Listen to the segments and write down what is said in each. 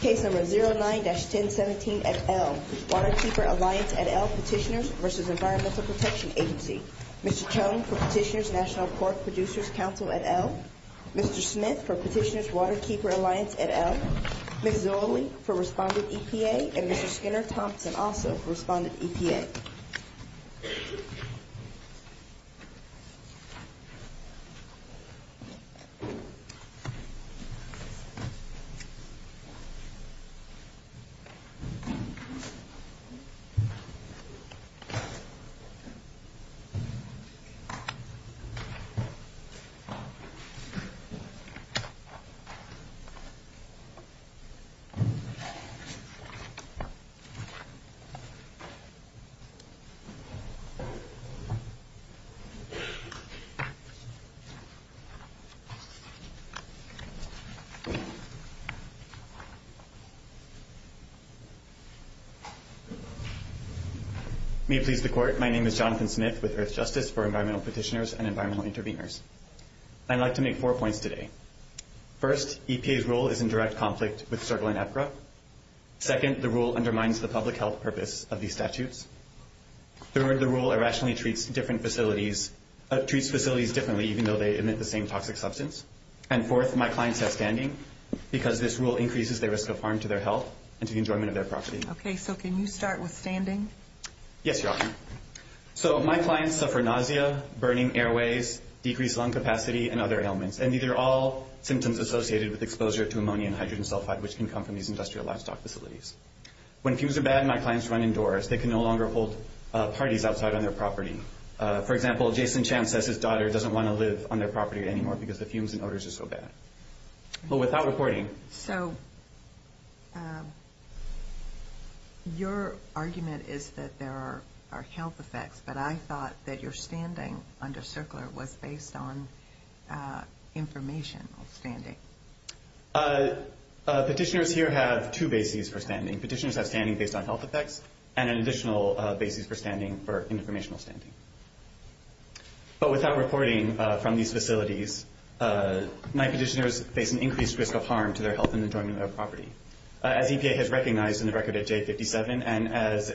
Case number 09-1017 et al. Waterkeeper Alliance et al. Petitioners v. Environmental Protection Agency Mr. Tone for Petitioners National Pork Producers Council et al. Mr. Smith for Petitioners Waterkeeper Alliance et al. Ms. Zoellick for Respondent EPA and Mr. Skinner Thompson also for Respondent EPA. May it please the Court, my name is Jonathan Smith with Earthjustice for Environmental Petitioners and Environmental Interveners. I'd like to make four points today. First, EPA's rule is in direct conflict with CERGLA and EPGRA. Second, the rule undermines the public health purpose of these statutes. Third, the rule irrationally treats facilities differently even though they emit the same toxic substance. And fourth, my clients have standing because this rule increases their risk of harm to their health and to the enjoyment of their property. Okay, so can you start with standing? Yes, Your Honor. So, my clients suffer nausea, burning airways, decreased lung capacity, and other ailments. And these are all symptoms associated with exposure to ammonia and hydrogen sulfide which can come from these industrial livestock facilities. When fumes are bad, my clients run indoors. They can no longer hold parties outside on their property. For example, Jason Champ says his daughter doesn't want to live on their property anymore because the fumes and odors are so bad. But without reporting... So, your argument is that there are health effects, but I thought that your standing under CERGLA was based on informational standing. Petitioners here have two bases for standing. Petitioners have standing based on health effects and an additional basis for standing for informational standing. But without reporting from these facilities, my petitioners face an increased risk of harm to their health and enjoyment of their property. As EPA has recognized in the record at J57 and as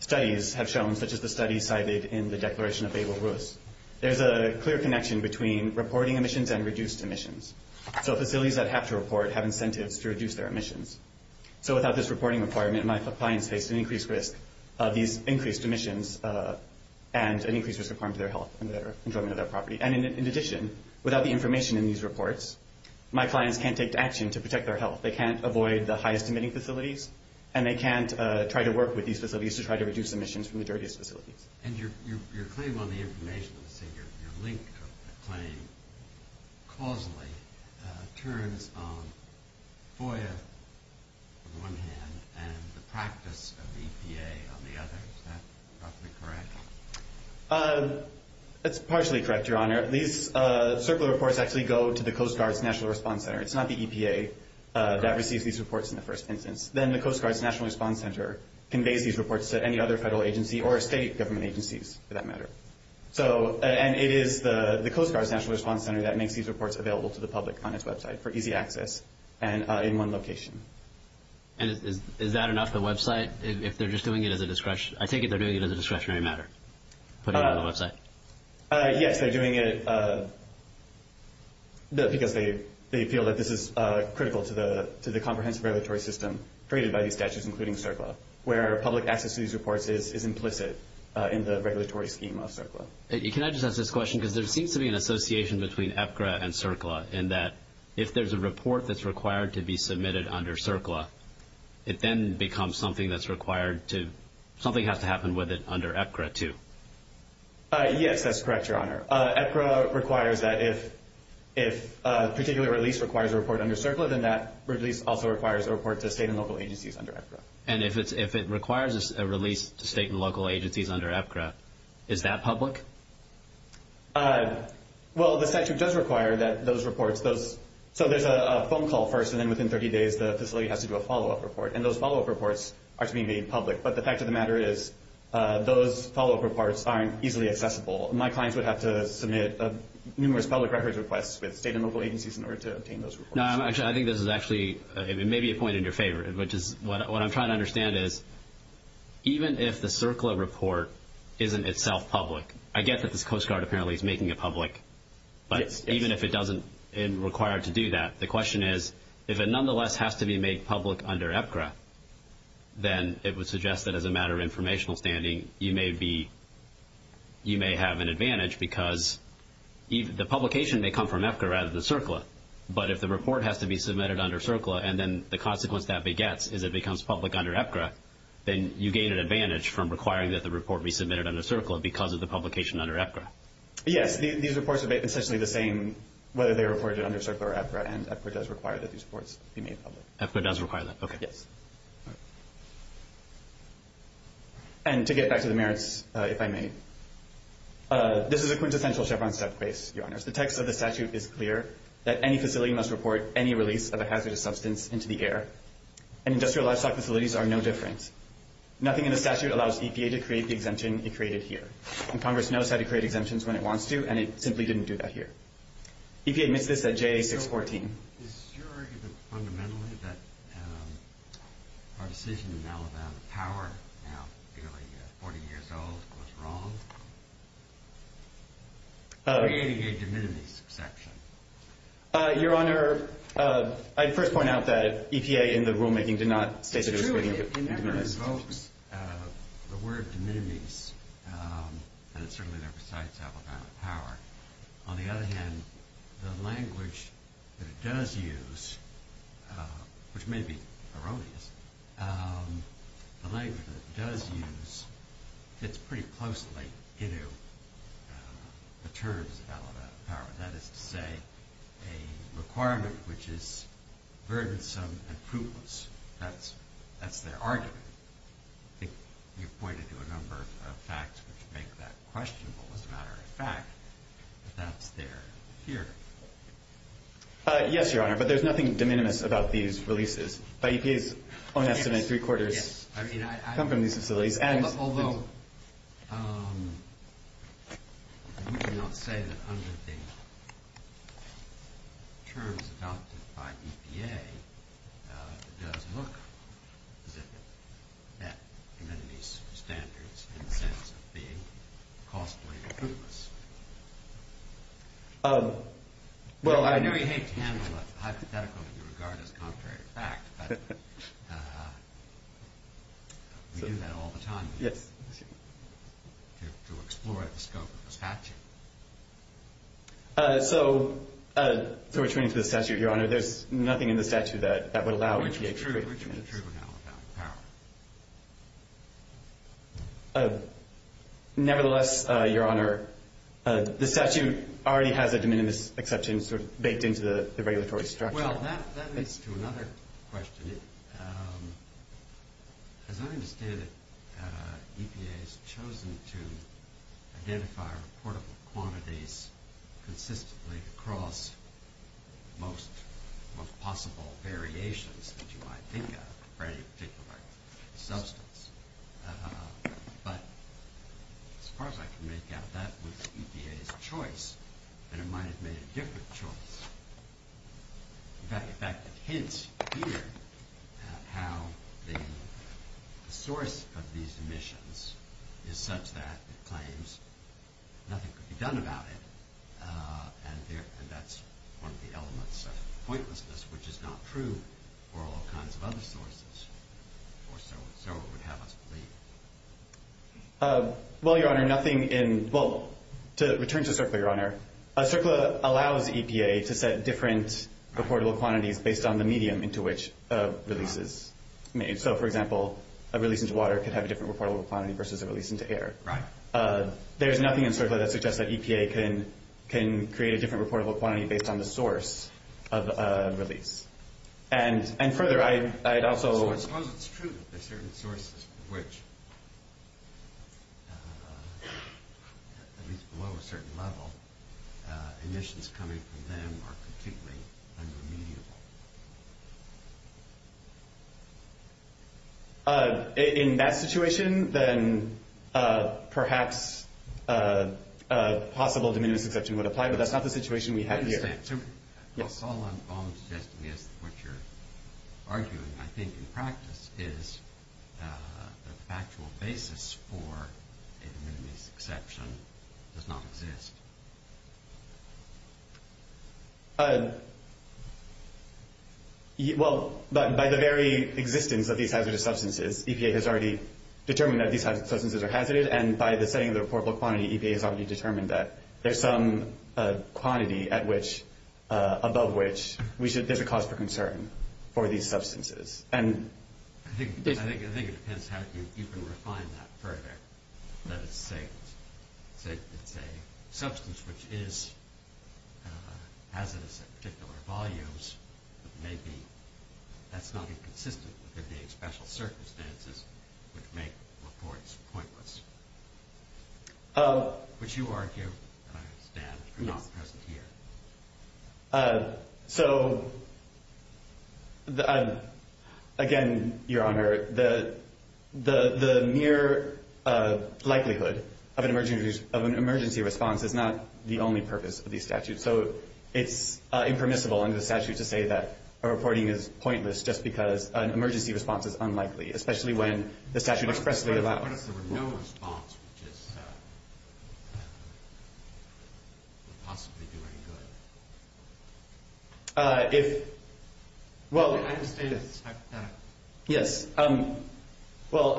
studies have shown, such as the study cited in the Declaration of Bebo Ruiz, there's a clear connection between reporting emissions and reduced emissions. So, facilities that have to report have incentives to reduce their emissions. So, without this reporting requirement, my clients face an increased risk of these increased emissions and an increased risk of harm to their health and their enjoyment of their property. And in addition, without the information in these reports, my clients can't take action to protect their health. They can't avoid the highest emitting facilities, and they can't try to work with these facilities to try to reduce emissions from the dirtiest facilities. And your claim on the information, let's say you're linked to a claim causally, turns on FOIA on one hand and the practice of EPA on the other. Is that roughly correct? That's partially correct, Your Honor. These circular reports actually go to the Coast Guard's National Response Center. It's not the EPA that receives these reports in the first instance. Then the Coast Guard's National Response Center conveys these reports to any other federal agency or state government agencies, for that matter. And it is the Coast Guard's National Response Center that makes these reports available to the public on its website for easy access and in one location. And is that enough, the website, if they're just doing it as a discretionary matter, putting it on the website? Yes, they're doing it because they feel that this is critical to the comprehensive regulatory system created by these statutes, including CERCLA, where public access to these reports is implicit in the regulatory scheme of CERCLA. Can I just ask this question? Because there seems to be an association between EPGRA and CERCLA, in that if there's a report that's required to be submitted under CERCLA, it then becomes something that's required to – something has to happen with it under EPGRA, too. Yes, that's correct, Your Honor. EPGRA requires that if a particular release requires a report under CERCLA, then that release also requires a report to state and local agencies under EPGRA. And if it requires a release to state and local agencies under EPGRA, is that public? Well, the statute does require that those reports – so there's a phone call first, and then within 30 days the facility has to do a follow-up report. And those follow-up reports are to be made public. But the fact of the matter is those follow-up reports aren't easily accessible. My clients would have to submit numerous public records requests with state and local agencies in order to obtain those reports. No, I think this is actually – it may be a point in your favor, which is what I'm trying to understand is, even if the CERCLA report isn't itself public – I get that the Coast Guard apparently is making it public, but even if it doesn't require to do that, the question is, if it nonetheless has to be made public under EPGRA, then it would suggest that as a matter of informational standing you may be – you may have an advantage because the publication may come from EPGRA rather than CERCLA. But if the report has to be submitted under CERCLA, and then the consequence that begets is it becomes public under EPGRA, then you gain an advantage from requiring that the report be submitted under CERCLA because of the publication under EPGRA. Yes, these reports are essentially the same whether they are reported under CERCLA or EPGRA, and EPGRA does require that these reports be made public. EPGRA does require that, okay. Yes. And to get back to the merits, if I may, this is a quintessential Chevron step case, Your Honors. The text of the statute is clear that any facility must report any release of a hazardous substance into the air, and industrial livestock facilities are no different. Nothing in the statute allows EPA to create the exemption it created here, and Congress knows how to create exemptions when it wants to, and it simply didn't do that here. EPA admits this at JA-614. So is your argument fundamentally that our decision in Alabama Power, now nearly 40 years old, was wrong? Creating a de minimis exception. Your Honor, I'd first point out that EPA in the rulemaking did not state that it was creating a de minimis exception. It invokes the word de minimis, and it certainly never cites Alabama Power. On the other hand, the language that it does use, which may be erroneous, the language that it does use fits pretty closely into the terms of Alabama Power. That is to say, a requirement which is burdensome and fruitless. That's their argument. I think you've pointed to a number of facts which make that questionable as a matter of fact, but that's their fear. Yes, Your Honor, but there's nothing de minimis about these releases. By EPA's own estimate, three-quarters come from these facilities. Although, you do not say that under the terms adopted by EPA, it does look as if it met community standards in the sense of being costly and fruitless. Well, I do hate to handle a hypothetical in regard as contrary to fact, but we do that all the time to explore the scope of the statute. So, to return to the statute, Your Honor, there's nothing in the statute that would allow EPA to create de minimis. Which would be true in Alabama Power. Nevertheless, Your Honor, the statute already has a de minimis exception baked into the regulatory structure. Well, that leads to another question. As I understand it, EPA has chosen to identify reportable quantities consistently across most possible variations that you might think of for any particular substance. But as far as I can make out, that was EPA's choice, and it might have made a different choice. In fact, it hints here at how the source of these emissions is such that it claims nothing could be done about it. And that's one of the elements of pointlessness, which is not true for all kinds of other sources. Well, Your Honor, nothing in – well, to return to CERCLA, Your Honor, CERCLA allows EPA to set different reportable quantities based on the medium into which a release is made. So, for example, a release into water could have a different reportable quantity versus a release into air. There's nothing in CERCLA that suggests that EPA can create a different reportable quantity based on the source of a release. And further, I'd also – So I suppose it's true that there are certain sources for which, at least below a certain level, emissions coming from them are completely unremediable. In that situation, then perhaps a possible diminutive exception would apply, but that's not the situation we have here. Well, all I'm suggesting is what you're arguing. I think in practice is the factual basis for a diminutive exception does not exist. Well, by the very existence of these hazardous substances, EPA has already determined that these substances are hazardous. And by the setting of the reportable quantity, EPA has already determined that there's some quantity at which – above which there's a cause for concern for these substances. I think it depends how you can refine that further. That it's a substance which is hazardous at particular volumes, but maybe that's not inconsistent with the special circumstances which make reports pointless. Which you argue, I understand, are not present here. So, again, Your Honor, the mere likelihood of an emergency response is not the only purpose of these statutes. So it's impermissible under the statute to say that a reporting is pointless just because an emergency response is unlikely, especially when the statute expressly allows it. What if there were no response, which would possibly do any good? Yes. Well,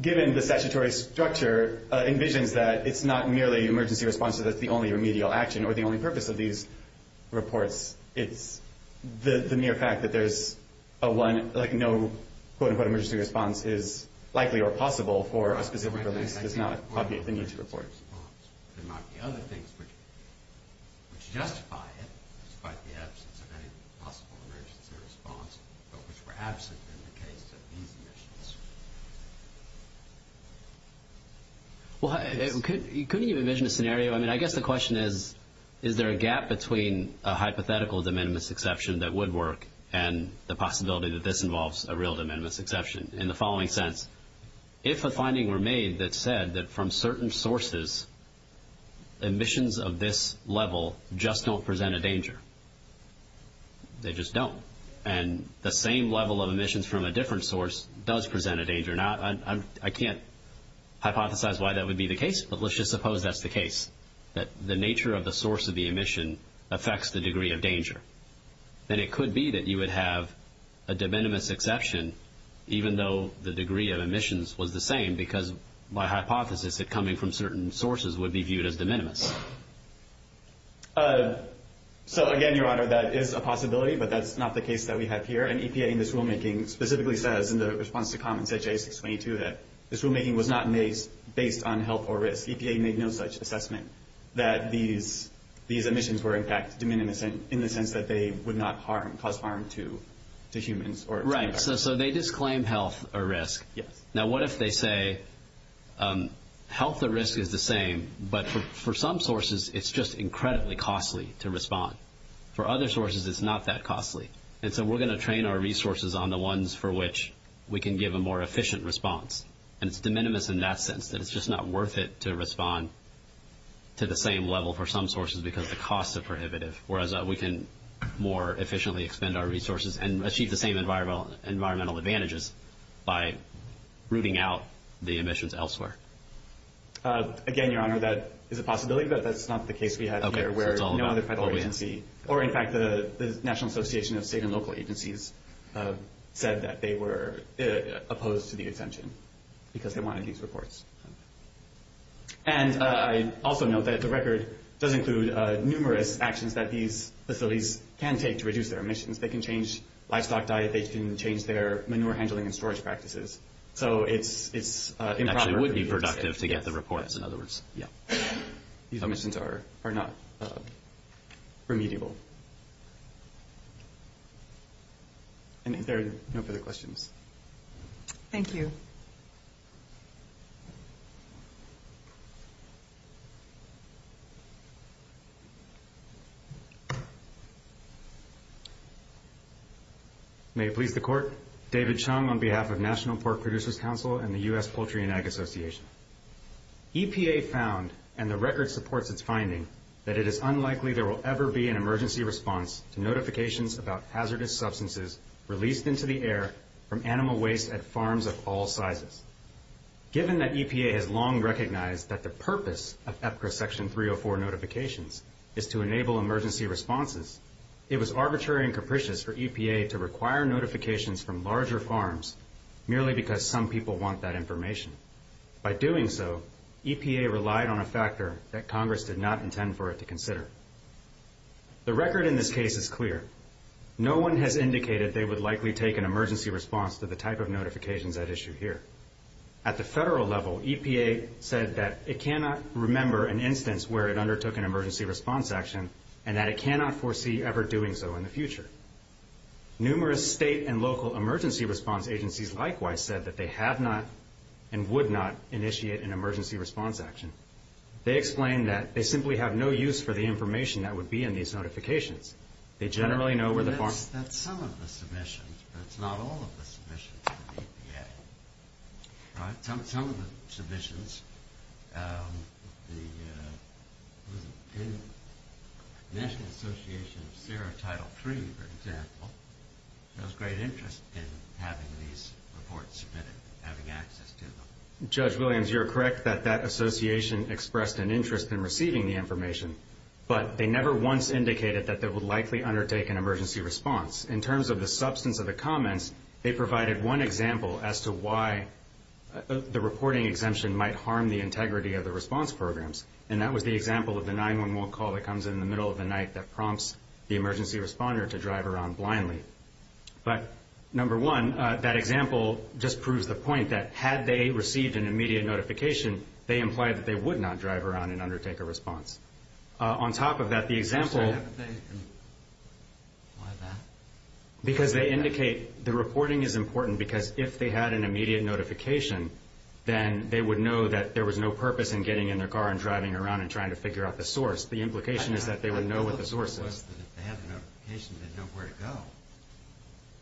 given the statutory structure, it envisions that it's not merely an emergency response that's the only remedial action or the only purpose of these reports. It's the mere fact that there's a one – like no, quote-unquote, emergency response is likely or possible for a specific release. It's not the need to report. There might be other things which justify it, despite the absence of any possible emergency response, but which were absent in the case of these emissions. Well, couldn't you envision a scenario – I mean, I guess the question is, is there a gap between a hypothetical de minimis exception that would work and the possibility that this involves a real de minimis exception? In the following sense, if a finding were made that said that from certain sources, emissions of this level just don't present a danger. They just don't. And the same level of emissions from a different source does present a danger. Now, I can't hypothesize why that would be the case, but let's just suppose that's the case, that the nature of the source of the emission affects the degree of danger. Then it could be that you would have a de minimis exception, even though the degree of emissions was the same, because by hypothesis, it coming from certain sources would be viewed as de minimis. So, again, Your Honor, that is a possibility, but that's not the case that we have here. And EPA, in this rulemaking, specifically says in the response to comments at J622 that this rulemaking was not based on health or risk. EPA made no such assessment that these emissions were, in fact, de minimis, in the sense that they would not cause harm to humans. Right, so they disclaim health or risk. Yes. Now, what if they say health or risk is the same, but for some sources, it's just incredibly costly to respond. For other sources, it's not that costly. And so we're going to train our resources on the ones for which we can give a more efficient response. And it's de minimis in that sense, that it's just not worth it to respond to the same level for some sources because the costs are prohibitive, whereas we can more efficiently expend our resources and achieve the same environmental advantages by rooting out the emissions elsewhere. Again, Your Honor, that is a possibility, but that's not the case we have here. Okay, so it's all about what we have. Or, in fact, the National Association of State and Local Agencies said that they were opposed to the exemption because they wanted these reports. And I also note that the record does include numerous actions that these facilities can take to reduce their emissions. They can change livestock diet. They can change their manure handling and storage practices. So it's in progress. It actually would be productive to get the reports, in other words. These emissions are not remediable. Are there no further questions? Thank you. May it please the Court, David Chung on behalf of National Pork Producers Council and the U.S. Poultry and Ag Association. EPA found, and the record supports its finding, that it is unlikely there will ever be an emergency response to notifications about hazardous substances released into the air from animal waste at farms of all sizes. Given that EPA has long recognized that the purpose of EPCRA Section 304 notifications is to enable emergency responses, it was arbitrary and capricious for EPA to require notifications from larger farms merely because some people want that information. By doing so, EPA relied on a factor that Congress did not intend for it to consider. The record in this case is clear. No one has indicated they would likely take an emergency response to the type of notifications at issue here. At the federal level, EPA said that it cannot remember an instance where it undertook an emergency response action and that it cannot foresee ever doing so in the future. Numerous state and local emergency response agencies likewise said that they had not and would not initiate an emergency response action. They explained that they simply have no use for the information that would be in these notifications. They generally know where the farms... That's some of the submissions, but it's not all of the submissions from the EPA. Some of the submissions, the National Association of Sierra Title III, for example, shows great interest in having these reports submitted, having access to them. Judge Williams, you're correct that that association expressed an interest in receiving the information, but they never once indicated that they would likely undertake an emergency response. In terms of the substance of the comments, they provided one example as to why the reporting exemption might harm the integrity of the response programs, and that was the example of the 911 call that comes in the middle of the night that prompts the emergency responder to drive around blindly. But number one, that example just proves the point that had they received an immediate notification, they implied that they would not drive around and undertake a response. On top of that, the example... Because they indicate the reporting is important because if they had an immediate notification, then they would know that there was no purpose in getting in their car and driving around and trying to figure out the source. The implication is that they would know what the source is.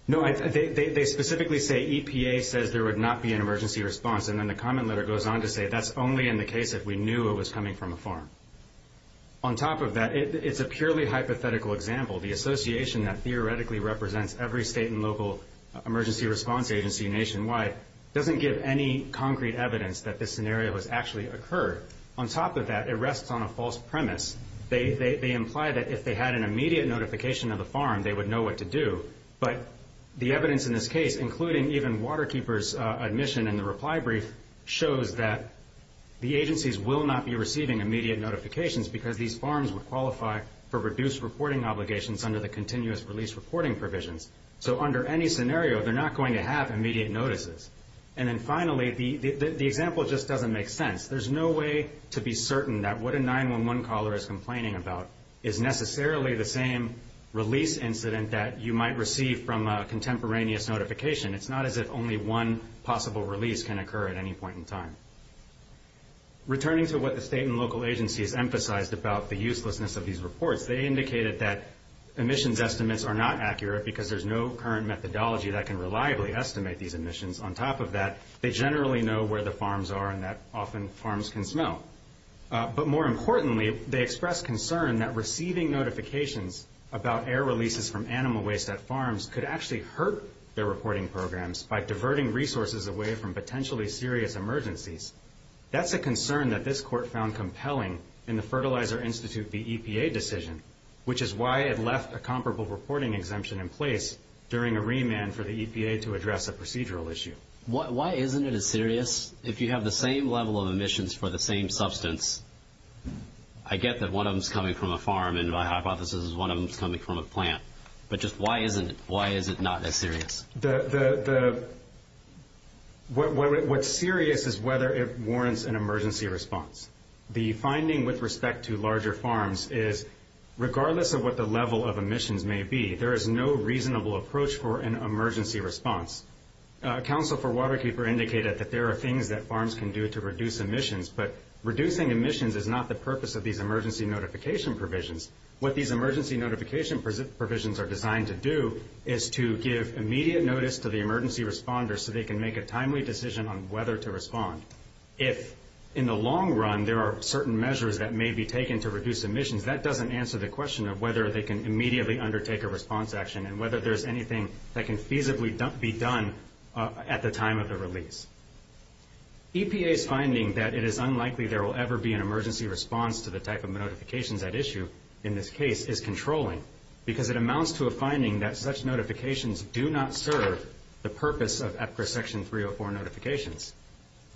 No, they specifically say EPA says there would not be an emergency response, and then the comment letter goes on to say that's only in the case if we knew it was coming from a farm. On top of that, it's a purely hypothetical example. The association that theoretically represents every state and local emergency response agency nationwide doesn't give any concrete evidence that this scenario has actually occurred. On top of that, it rests on a false premise. They imply that if they had an immediate notification of the farm, they would know what to do. But the evidence in this case, including even Waterkeeper's admission in the reply brief, shows that the agencies will not be receiving immediate notifications because these farms would qualify for reduced reporting obligations under the continuous release reporting provisions. So under any scenario, they're not going to have immediate notices. And then finally, the example just doesn't make sense. There's no way to be certain that what a 911 caller is complaining about is necessarily the same release incident that you might receive from a contemporaneous notification. It's not as if only one possible release can occur at any point in time. Returning to what the state and local agencies emphasized about the uselessness of these reports, they indicated that emissions estimates are not accurate because there's no current methodology that can reliably estimate these emissions. On top of that, they generally know where the farms are and that often farms can smell. But more importantly, they expressed concern that receiving notifications about air releases from animal waste at farms could actually hurt their reporting programs by diverting resources away from potentially serious emergencies. That's a concern that this court found compelling in the Fertilizer Institute v. EPA decision, which is why it left a comparable reporting exemption in place during a remand for the EPA to address a procedural issue. Why isn't it as serious? If you have the same level of emissions for the same substance, I get that one of them is coming from a farm and my hypothesis is one of them is coming from a plant. But just why isn't it? Why is it not as serious? What's serious is whether it warrants an emergency response. The finding with respect to larger farms is regardless of what the level of emissions may be, there is no reasonable approach for an emergency response. Council for Waterkeeper indicated that there are things that farms can do to reduce emissions, but reducing emissions is not the purpose of these emergency notification provisions. What these emergency notification provisions are designed to do is to give immediate notice to the emergency responders so they can make a timely decision on whether to respond. If in the long run there are certain measures that may be taken to reduce emissions, that doesn't answer the question of whether they can immediately undertake a response action and whether there's anything that can feasibly be done at the time of the release. EPA's finding that it is unlikely there will ever be an emergency response to the type of notifications at issue in this case is controlling because it amounts to a finding that such notifications do not serve the purpose of EPCRA Section 304 notifications.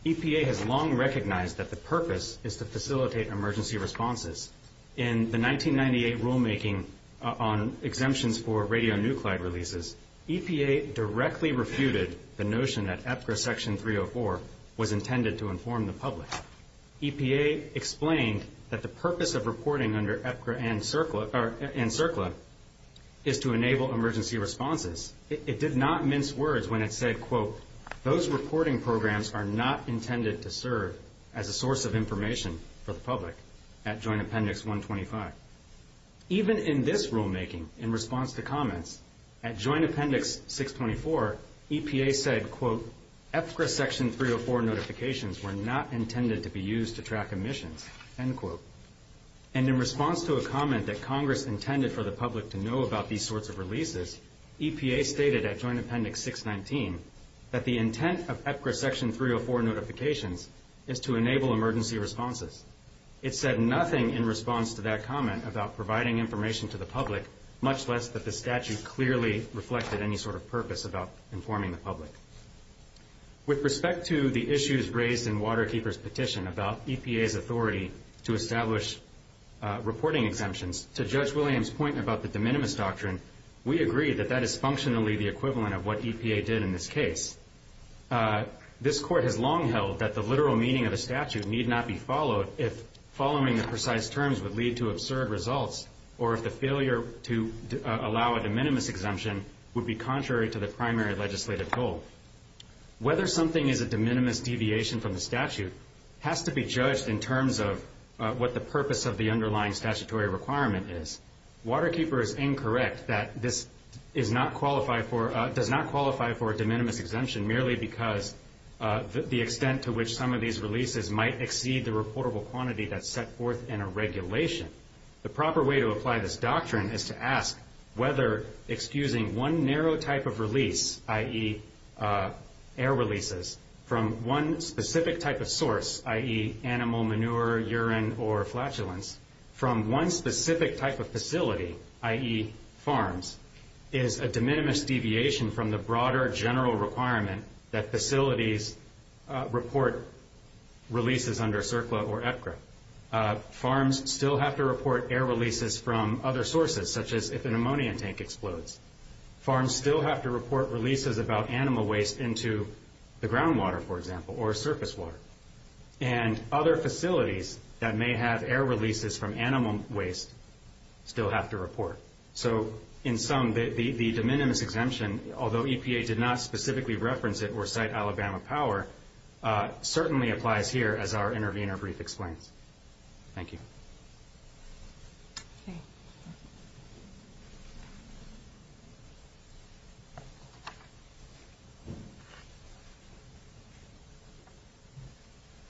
EPA has long recognized that the purpose is to facilitate emergency responses. In the 1998 rulemaking on exemptions for radionuclide releases, EPA directly refuted the notion that EPCRA Section 304 was intended to inform the public. EPA explained that the purpose of reporting under EPCRA and CERCLA is to enable emergency responses. It did not mince words when it said, quote, Those reporting programs are not intended to serve as a source of information for the public, at Joint Appendix 125. Even in this rulemaking, in response to comments, at Joint Appendix 624, EPA said, quote, EPCRA Section 304 notifications were not intended to be used to track emissions, end quote. And in response to a comment that Congress intended for the public to know about these sorts of releases, EPA stated at Joint Appendix 619 that the intent of EPCRA Section 304 notifications is to enable emergency responses. It said nothing in response to that comment about providing information to the public, much less that the statute clearly reflected any sort of purpose about informing the public. With respect to the issues raised in Waterkeeper's petition about EPA's authority to establish reporting exemptions, to Judge Williams' point about the de minimis doctrine, we agree that that is functionally the equivalent of what EPA did in this case. This Court has long held that the literal meaning of the statute need not be followed if following the precise terms would lead to absurd results, or if the failure to allow a de minimis exemption would be contrary to the primary legislative goal. Whether something is a de minimis deviation from the statute has to be judged in terms of what the purpose of the underlying statutory requirement is. Waterkeeper is incorrect that this does not qualify for a de minimis exemption merely because the extent to which some of these releases might exceed the reportable quantity that's set forth in a regulation. The proper way to apply this doctrine is to ask whether excusing one narrow type of release, i.e. air releases, from one specific type of source, i.e. animal manure, urine, or flatulence, from one specific type of facility, i.e. farms, is a de minimis deviation from the broader general requirement that facilities report releases under CERCLA or EPGRA. Farms still have to report air releases from other sources, such as if an ammonium tank explodes. Farms still have to report releases about animal waste into the groundwater, for example, or surface water. And other facilities that may have air releases from animal waste still have to report. So in sum, the de minimis exemption, although EPA did not specifically reference it or cite Alabama power, certainly applies here as our intervener brief explains. Thank you.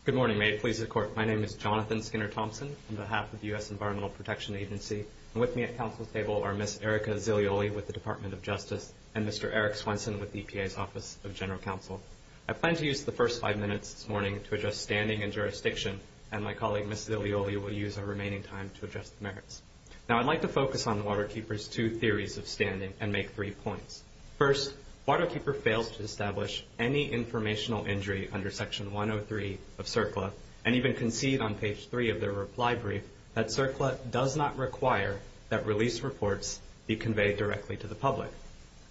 Good morning. May it please the Court. My name is Jonathan Skinner-Thompson on behalf of the U.S. Environmental Protection Agency. With me at Council's table are Ms. Erica Zilioli with the Department of Justice and Mr. Eric Swenson with the EPA's Office of General Counsel. I plan to use the first five minutes this morning to address standing and jurisdiction, and my colleague, Ms. Zilioli, will use our remaining time to address the merits. Now I'd like to focus on Waterkeeper's two theories of standing and make three points. First, Waterkeeper fails to establish any informational injury under Section 103 of CERCLA and even concede on page 3 of their reply brief that CERCLA does not require that release reports be conveyed directly to the public.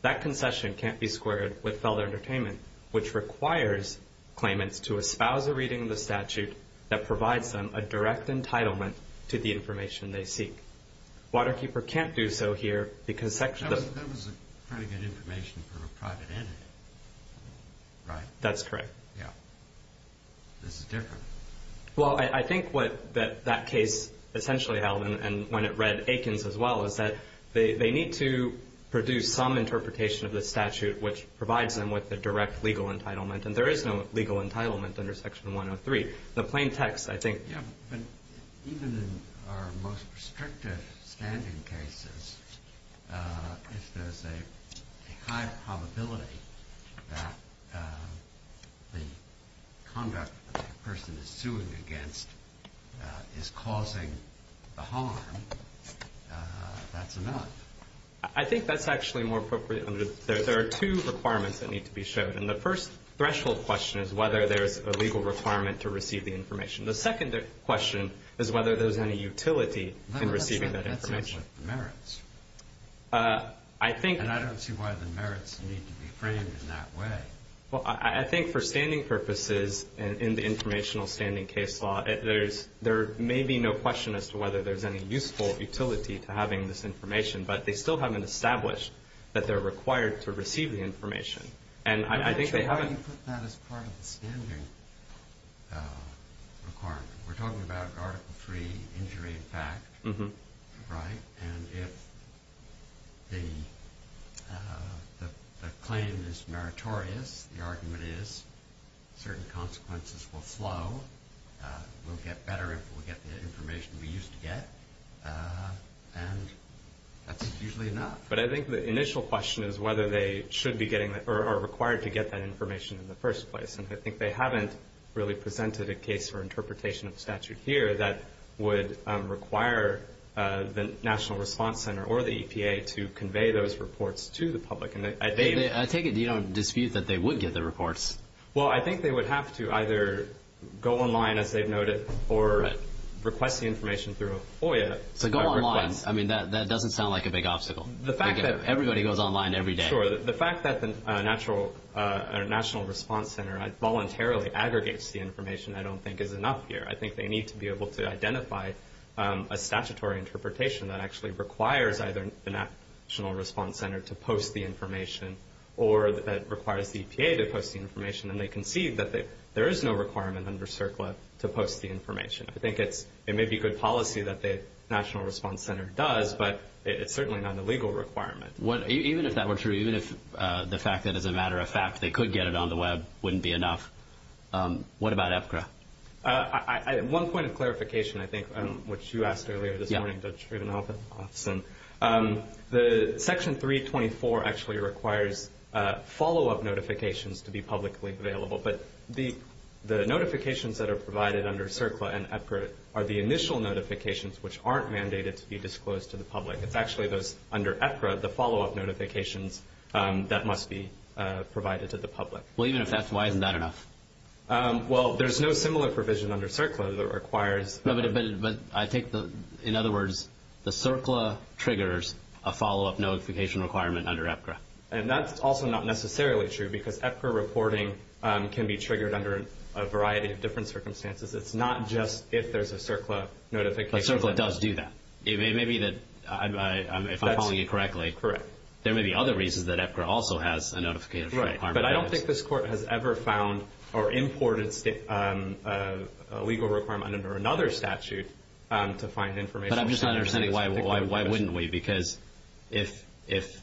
That concession can't be squared with fellow entertainment, which requires claimants to espouse a reading of the statute that provides them a direct entitlement to the information they seek. Waterkeeper can't do so here because section... That was pretty good information for a private entity, right? That's correct. Yeah. This is different. Well, I think what that case essentially held, and when it read Aikens as well, is that they need to produce some interpretation of the statute which provides them with a direct legal entitlement, and there is no legal entitlement under Section 103. The plain text, I think... Yeah, but even in our most restrictive standing cases, if there's a high probability that the conduct that the person is suing against is causing the harm, that's enough. I think that's actually more appropriate. There are two requirements that need to be shown, and the first threshold question is whether there's a legal requirement to receive the information. The second question is whether there's any utility in receiving that information. That's what merits. I think... And I don't see why the merits need to be framed in that way. Well, I think for standing purposes in the informational standing case law, there may be no question as to whether there's any useful utility to having this information, but they still haven't established that they're required to receive the information. I'm not sure why you put that as part of the standing requirement. We're talking about Article III injury in fact, right? And if the claim is meritorious, the argument is certain consequences will flow. We'll get better if we get the information we used to get, and that's usually enough. But I think the initial question is whether they should be getting or are required to get that information in the first place, and I think they haven't really presented a case for interpretation of statute here that would require the National Response Center or the EPA to convey those reports to the public. I take it you don't dispute that they would get the reports. Well, I think they would have to either go online, as they've noted, or request the information through a FOIA. So go online. I mean, that doesn't sound like a big obstacle. Everybody goes online every day. Sure. The fact that the National Response Center voluntarily aggregates the information I don't think is enough here. I think they need to be able to identify a statutory interpretation that actually requires either the National Response Center to post the information or that requires the EPA to post the information, and they concede that there is no requirement under CERCLA to post the information. I think it may be good policy that the National Response Center does, but it's certainly not a legal requirement. Even if that were true, even if the fact that as a matter of fact they could get it on the Web wouldn't be enough, what about EPCRA? One point of clarification, I think, which you asked earlier this morning, Judge Friedenhoff, Section 324 actually requires follow-up notifications to be publicly available, but the notifications that are provided under CERCLA and EPCRA are the initial notifications which aren't mandated to be disclosed to the public. It's actually those under EPCRA, the follow-up notifications, that must be provided to the public. Well, even if that's why, isn't that enough? Well, there's no similar provision under CERCLA that requires. But I think, in other words, the CERCLA triggers a follow-up notification requirement under EPCRA. And that's also not necessarily true because EPCRA reporting can be triggered under a variety of different circumstances. It's not just if there's a CERCLA notification. But CERCLA does do that. It may be that, if I'm following you correctly, there may be other reasons that EPCRA also has a notification requirement. But I don't think this Court has ever found or imported a legal requirement under another statute to find information. But I'm just not understanding why wouldn't we? Because if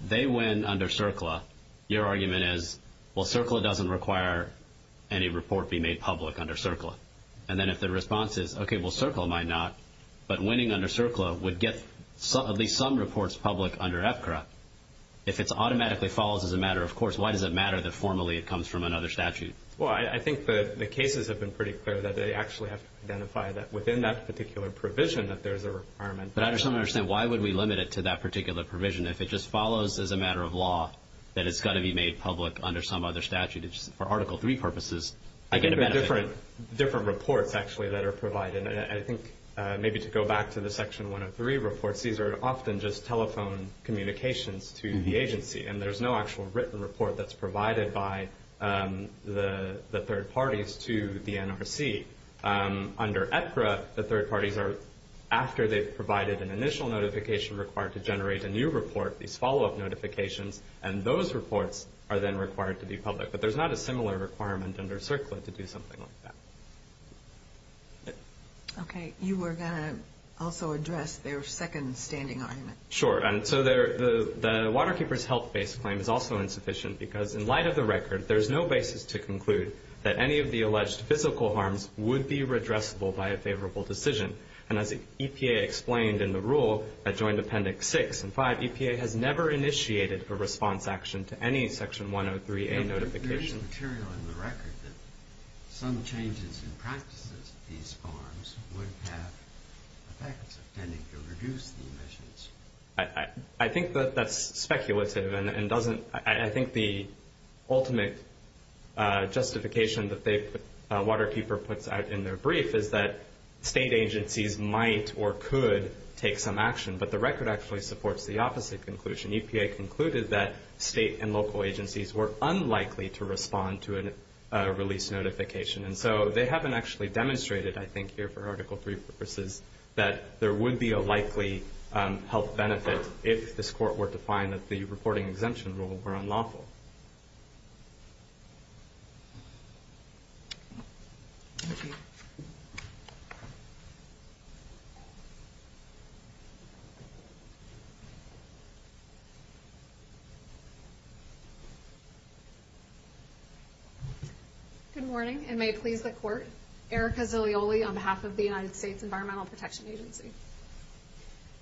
they win under CERCLA, your argument is, well, CERCLA doesn't require any report be made public under CERCLA. And then if the response is, okay, well, CERCLA might not. But winning under CERCLA would get at least some reports public under EPCRA. If it automatically falls as a matter of course, why does it matter that formally it comes from another statute? Well, I think the cases have been pretty clear that they actually have to identify that, within that particular provision, that there's a requirement. But I just don't understand why would we limit it to that particular provision? If it just follows as a matter of law that it's got to be made public under some other statute, for Article III purposes, I get a benefit. Different reports, actually, that are provided. And I think maybe to go back to the Section 103 reports, these are often just telephone communications to the agency. And there's no actual written report that's provided by the third parties to the NRC. Under EPCRA, the third parties are, after they've provided an initial notification required to generate a new report, these follow-up notifications, and those reports are then required to be public. But there's not a similar requirement under CERCLA to do something like that. Okay. You were going to also address their second standing argument. Sure. And so the waterkeeper's health-based claim is also insufficient because, in light of the record, there's no basis to conclude that any of the alleged physical harms would be redressable by a favorable decision. And as EPA explained in the rule that joined Appendix 6 and 5, EPA has never initiated a response action to any Section 103A notification. There is material in the record that some changes in practices of these harms would have effects, intending to reduce the emissions. I think that that's speculative. And I think the ultimate justification that the waterkeeper puts out in their brief is that state agencies might or could take some action. But the record actually supports the opposite conclusion. EPA concluded that state and local agencies were unlikely to respond to a release notification. And so they haven't actually demonstrated, I think, here for Article 3 purposes, that there would be a likely health benefit if this court were to find that the reporting exemption rule were unlawful. Good morning, and may it please the Court. Erica Zaglioli on behalf of the United States Environmental Protection Agency.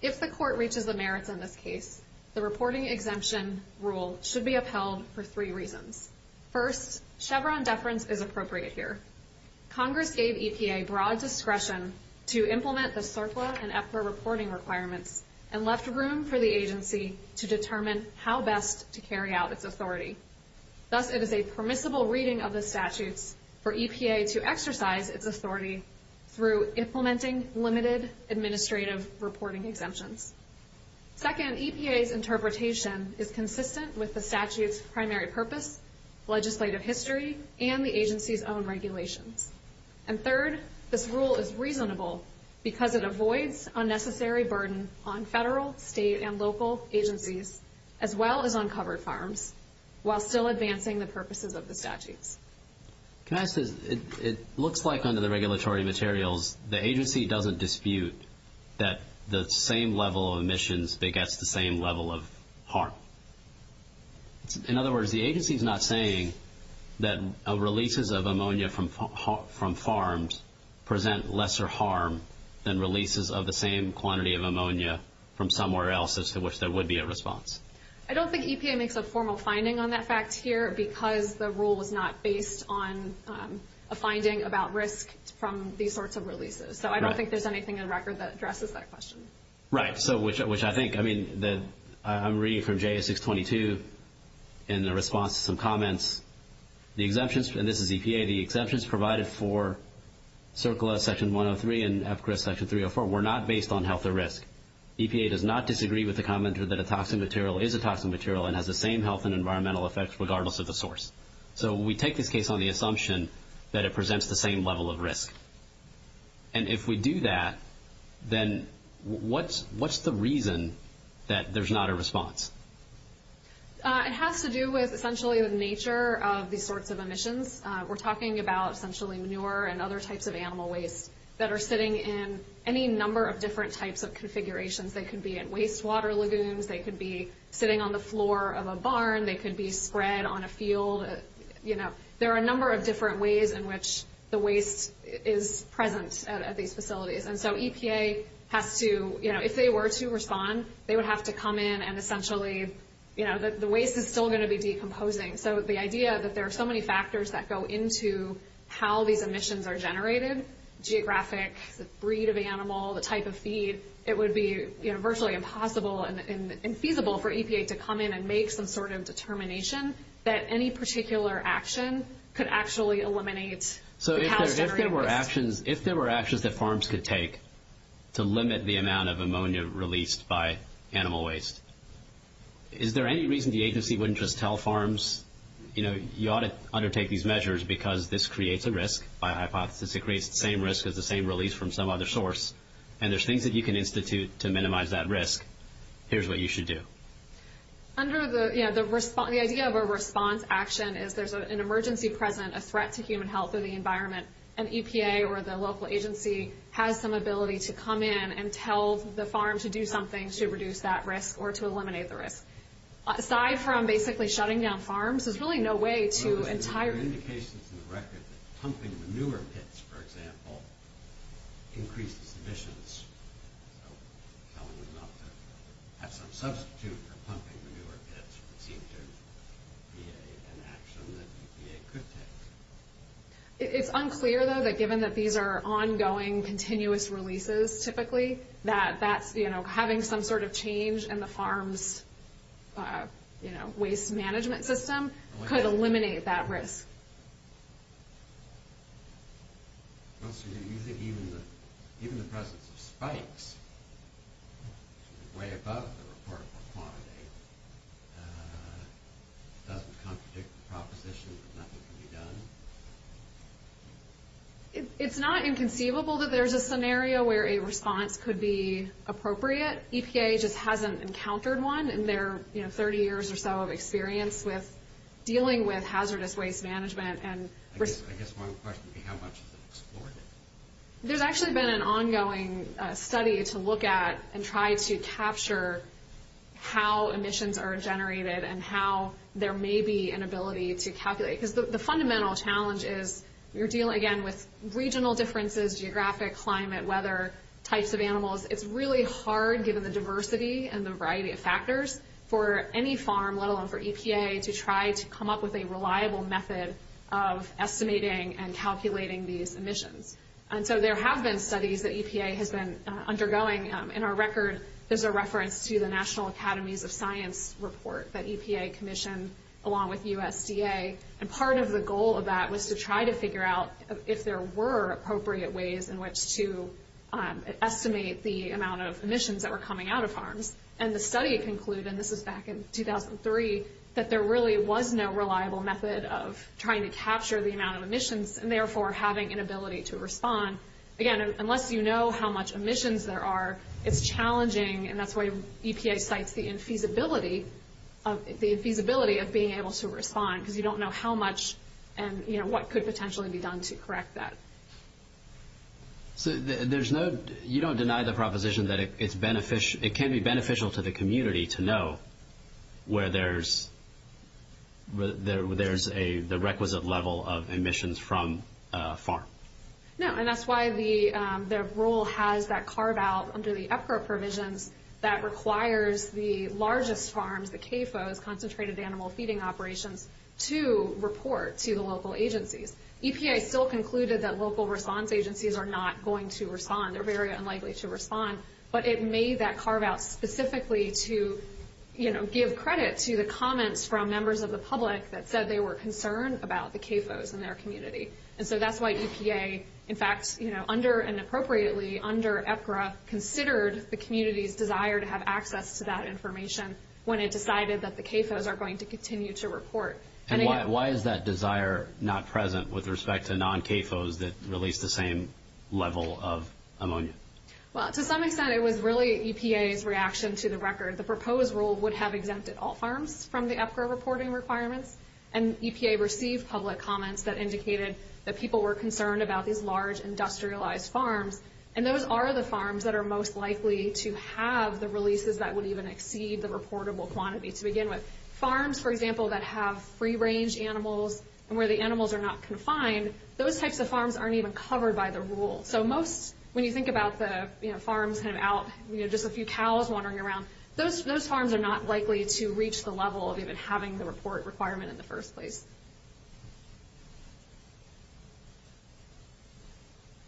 If the Court reaches the merits in this case, the reporting exemption rule should be upheld for three reasons. First, Chevron deference is appropriate here. Congress gave EPA broad discretion to implement the CERFLA and EPFRA reporting requirements and left room for the agency to determine how best to carry out its authority. Thus, it is a permissible reading of the statutes for EPA to exercise its authority through implementing limited administrative reporting exemptions. Second, EPA's interpretation is consistent with the statute's primary purpose, legislative history, and the agency's own regulations. And third, this rule is reasonable because it avoids unnecessary burden on federal, state, and local agencies, as well as on covered farms, while still advancing the purposes of the statutes. Can I say, it looks like under the regulatory materials, the agency doesn't dispute that the same level of emissions begets the same level of harm. In other words, the agency's not saying that releases of ammonia from farms present lesser harm than releases of the same quantity of ammonia from somewhere else as to which there would be a response. I don't think EPA makes a formal finding on that fact here because the rule was not based on a finding about risk from these sorts of releases. So I don't think there's anything in the record that addresses that question. Right. So, which I think, I mean, I'm reading from JS 622 in the response to some comments. The exemptions, and this is EPA, the exemptions provided for CERCLA Section 103 and EPCRA Section 304 were not based on health or risk. EPA does not disagree with the comment that a toxic material is a toxic material and has the same health and environmental effects regardless of the source. So we take this case on the assumption that it presents the same level of risk. And if we do that, then what's the reason that there's not a response? It has to do with essentially the nature of these sorts of emissions. We're talking about essentially manure and other types of animal waste that are sitting in any number of different types of configurations. They could be in wastewater lagoons. They could be sitting on the floor of a barn. They could be spread on a field. You know, there are a number of different ways in which the waste is present at these facilities. And so EPA has to, you know, if they were to respond, they would have to come in and essentially, you know, the waste is still going to be decomposing. So the idea that there are so many factors that go into how these emissions are generated, geographic, the breed of animal, the type of feed, it would be virtually impossible and feasible for EPA to come in and make some sort of determination that any particular action could actually eliminate the cows generating this. If there were actions that farms could take to limit the amount of ammonia released by animal waste, is there any reason the agency wouldn't just tell farms, you know, you ought to undertake these measures because this creates a risk by hypothesis. It creates the same risk as the same release from some other source. And there's things that you can institute to minimize that risk. Here's what you should do. Under the, you know, the response, the idea of a response action is there's an emergency present, a threat to human health or the environment, and EPA or the local agency has some ability to come in and tell the farm to do something to reduce that risk or to eliminate the risk. Aside from basically shutting down farms, there's really no way to entirely... It's unclear, though, that given that these are ongoing, continuous releases, typically, that that's, you know, having some sort of change in the farm's, you know, waste management system could eliminate that risk. Well, so you think even the presence of spikes way above the reportable quantity doesn't contradict the proposition that nothing can be done? It's not inconceivable that there's a scenario where a response could be appropriate. EPA just hasn't encountered one in their, you know, 30 years or so of experience with dealing with hazardous waste management and risk. I guess my question would be how much is it explored? There's actually been an ongoing study to look at and try to capture how emissions are generated and how there may be an ability to calculate, because the fundamental challenge is you're dealing, again, with regional differences, geographic, climate, weather, types of animals. It's really hard, given the diversity and the variety of factors, for any farm, let alone for EPA, to try to come up with a reliable method of estimating and calculating these emissions. And so there have been studies that EPA has been undergoing. In our record, there's a reference to the National Academies of Science report that EPA commissioned along with USDA. And part of the goal of that was to try to figure out if there were appropriate ways in which to estimate the amount of emissions that were coming out of farms. And the study concluded, and this was back in 2003, that there really was no reliable method of trying to capture the amount of emissions and therefore having an ability to respond. Again, unless you know how much emissions there are, it's challenging, and that's why EPA cites the infeasibility of being able to respond, because you don't know how much and what could potentially be done to correct that. So you don't deny the proposition that it can be beneficial to the community to know where there's the requisite level of emissions from a farm? No, and that's why the rule has that carve-out under the EPRA provisions that requires the largest farms, the CAFOs, Concentrated Animal Feeding Operations, to report to the local agencies. EPA still concluded that local response agencies are not going to respond. They're very unlikely to respond. But it made that carve-out specifically to give credit to the comments from members of the public that said they were concerned about the CAFOs in their community. And so that's why EPA, in fact, under and appropriately under EPRA, considered the community's desire to have access to that information when it decided that the CAFOs are going to continue to report. And why is that desire not present with respect to non-CAFOs that release the same level of ammonia? Well, to some extent, it was really EPA's reaction to the record. The proposed rule would have exempted all farms from the EPRA reporting requirements, and EPA received public comments that indicated that people were concerned about these large industrialized farms. And those are the farms that are most likely to have the releases that would even exceed the reportable quantity to begin with. Farms, for example, that have free-range animals and where the animals are not confined, those types of farms aren't even covered by the rule. So most, when you think about the farms kind of out, just a few cows wandering around, those farms are not likely to reach the level of even having the report requirement in the first place.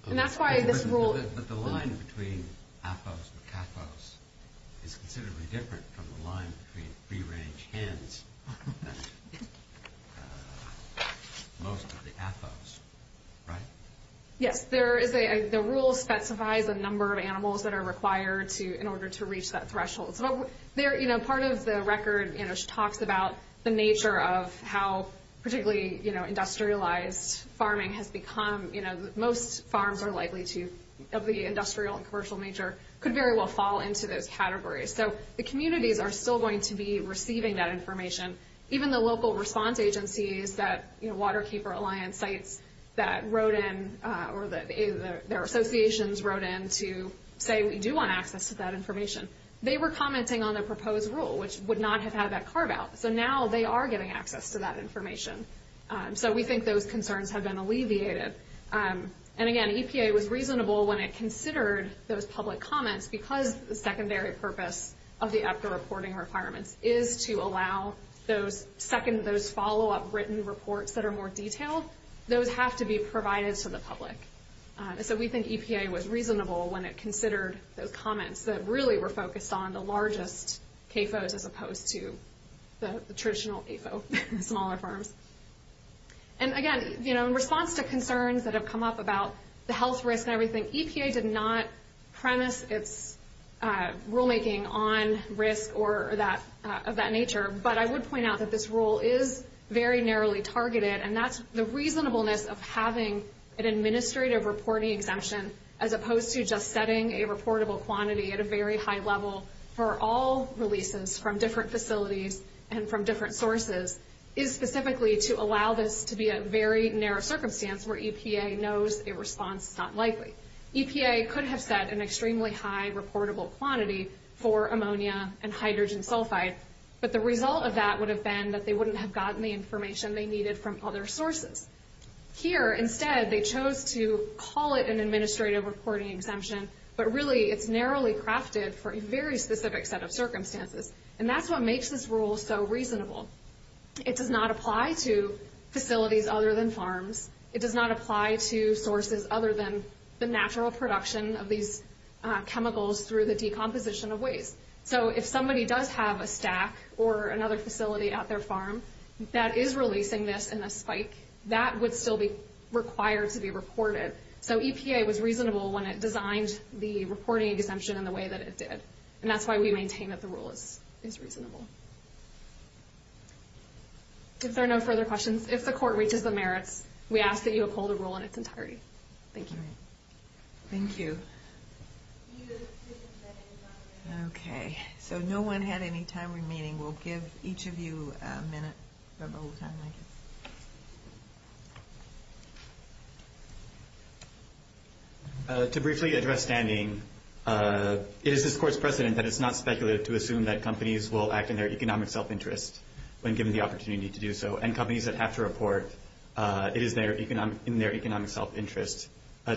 And that's why this rule... But the line between AFOs and CAFOs is considerably different from the line between free-range hens and most of the AFOs, right? Yes, the rule specifies the number of animals that are required in order to reach that threshold. Part of the record talks about the nature of how particularly industrialized farming has become. Most farms are likely to, of the industrial and commercial nature, could very well fall into those categories. So the communities are still going to be receiving that information. Even the local response agencies that Waterkeeper Alliance sites that wrote in, or their associations wrote in to say, we do want access to that information, they were commenting on the proposed rule, which would not have had that carve-out. So now they are getting access to that information. So we think those concerns have been alleviated. And again, EPA was reasonable when it considered those public comments because the secondary purpose of the EPCA reporting requirements is to allow those follow-up written reports that are more detailed. Those have to be provided to the public. So we think EPA was reasonable when it considered those comments that really were focused on the largest AFOs as opposed to the traditional AFO, smaller farms. And again, in response to concerns that have come up about the health risk and everything, EPA did not premise its rulemaking on risk of that nature. But I would point out that this rule is very narrowly targeted, and that's the reasonableness of having an administrative reporting exemption as opposed to just setting a reportable quantity at a very high level for all releases from different facilities and from different sources, is specifically to allow this to be a very narrow circumstance where EPA knows a response is not likely. EPA could have set an extremely high reportable quantity for ammonia and hydrogen sulfide, but the result of that would have been that they wouldn't have gotten the information they needed from other sources. Here, instead, they chose to call it an administrative reporting exemption, but really it's narrowly crafted for a very specific set of circumstances, and that's what makes this rule so reasonable. It does not apply to facilities other than farms. It does not apply to sources other than the natural production of these chemicals through the decomposition of waste. So if somebody does have a stack or another facility at their farm that is releasing this in a spike, that would still be required to be reported. So EPA was reasonable when it designed the reporting exemption in the way that it did, and that's why we maintain that the rule is reasonable. If there are no further questions, if the Court reaches the merits, we ask that you uphold the rule in its entirety. Thank you. Thank you. Okay, so no one had any time remaining. We'll give each of you a minute. To briefly address standing, it is this Court's precedent that it's not speculative to assume that companies will act in their economic self-interest when given the opportunity to do so, and companies that have to report it is in their economic self-interest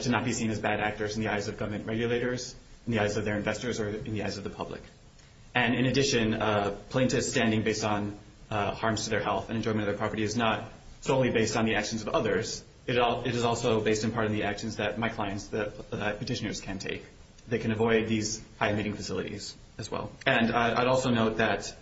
to not be seen as bad actors in the eyes of government regulators, in the eyes of their investors, or in the eyes of the public. And in addition, plaintiff's standing based on harms to their health and enjoyment of their property is not solely based on the actions of others. It is also based in part on the actions that my clients, the petitioners, can take. They can avoid these high-emitting facilities as well. And I'd also note that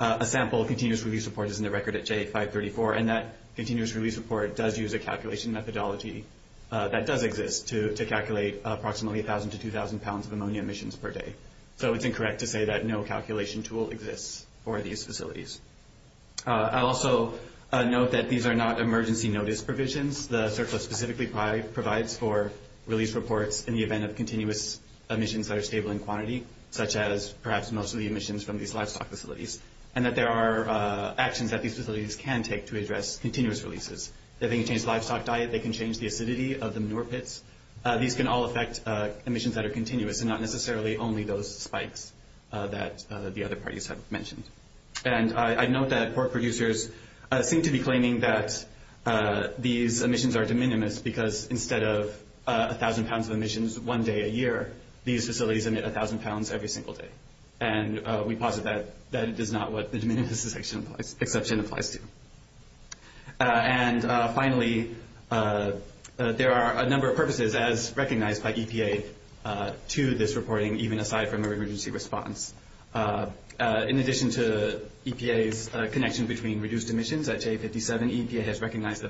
a sample continuous release report is in the record at J534, and that continuous release report does use a calculation methodology that does exist to calculate approximately 1,000 to 2,000 pounds of ammonia emissions per day. So it's incorrect to say that no calculation tool exists for these facilities. I'll also note that these are not emergency notice provisions. The surplus specifically provides for release reports in the event of continuous emissions that are stable in quantity, such as perhaps most of the emissions from these livestock facilities, and that there are actions that these facilities can take to address continuous releases. If they can change the livestock diet, they can change the acidity of the manure pits. These can all affect emissions that are continuous and not necessarily only those spikes that the other parties have mentioned. And I note that pork producers seem to be claiming that these emissions are de minimis where these facilities emit 1,000 pounds every single day. And we posit that that is not what the de minimis exception applies to. And finally, there are a number of purposes as recognized by EPA to this reporting, even aside from an emergency response. In addition to EPA's connection between reduced emissions at J57, we recognize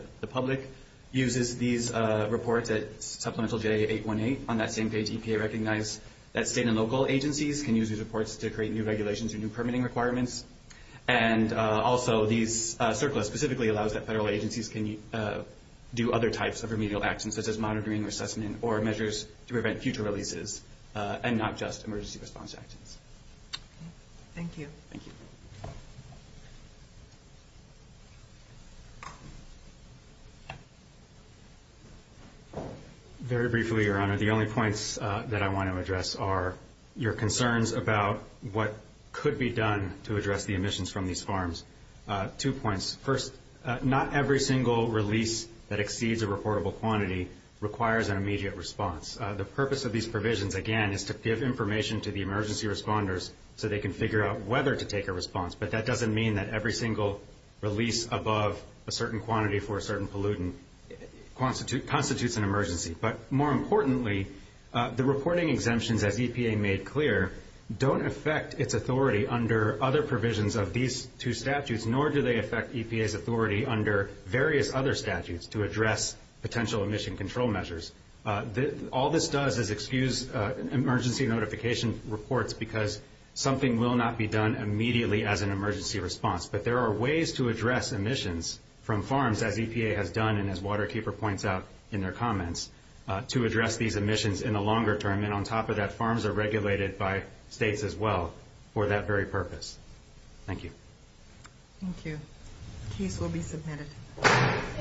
that state and local agencies can use these reports to create new regulations or new permitting requirements. And also these surplus specifically allows that federal agencies can do other types of remedial actions, such as monitoring, assessment, or measures to prevent future releases and not just emergency response actions. Thank you. Thank you. Very briefly, Your Honor, the only points that I want to address are your concerns about what could be done to address the emissions from these farms. Two points. First, not every single release that exceeds a reportable quantity requires an immediate response. The purpose of these provisions, again, is to give information to the emergency responders so they can figure out whether to take a response. But that doesn't mean that every single release above a certain quantity for a certain pollutant constitutes an emergency. But more importantly, the reporting exemptions, as EPA made clear, don't affect its authority under other provisions of these two statutes, nor do they affect EPA's authority under various other statutes to address potential emission control measures. All this does is excuse emergency notification reports because something will not be done immediately as an emergency response. But there are ways to address emissions from farms, as EPA has done and as Waterkeeper points out in their comments, to address these emissions in the longer term. And on top of that, farms are regulated by states as well for that very purpose. Thank you. The case will be submitted.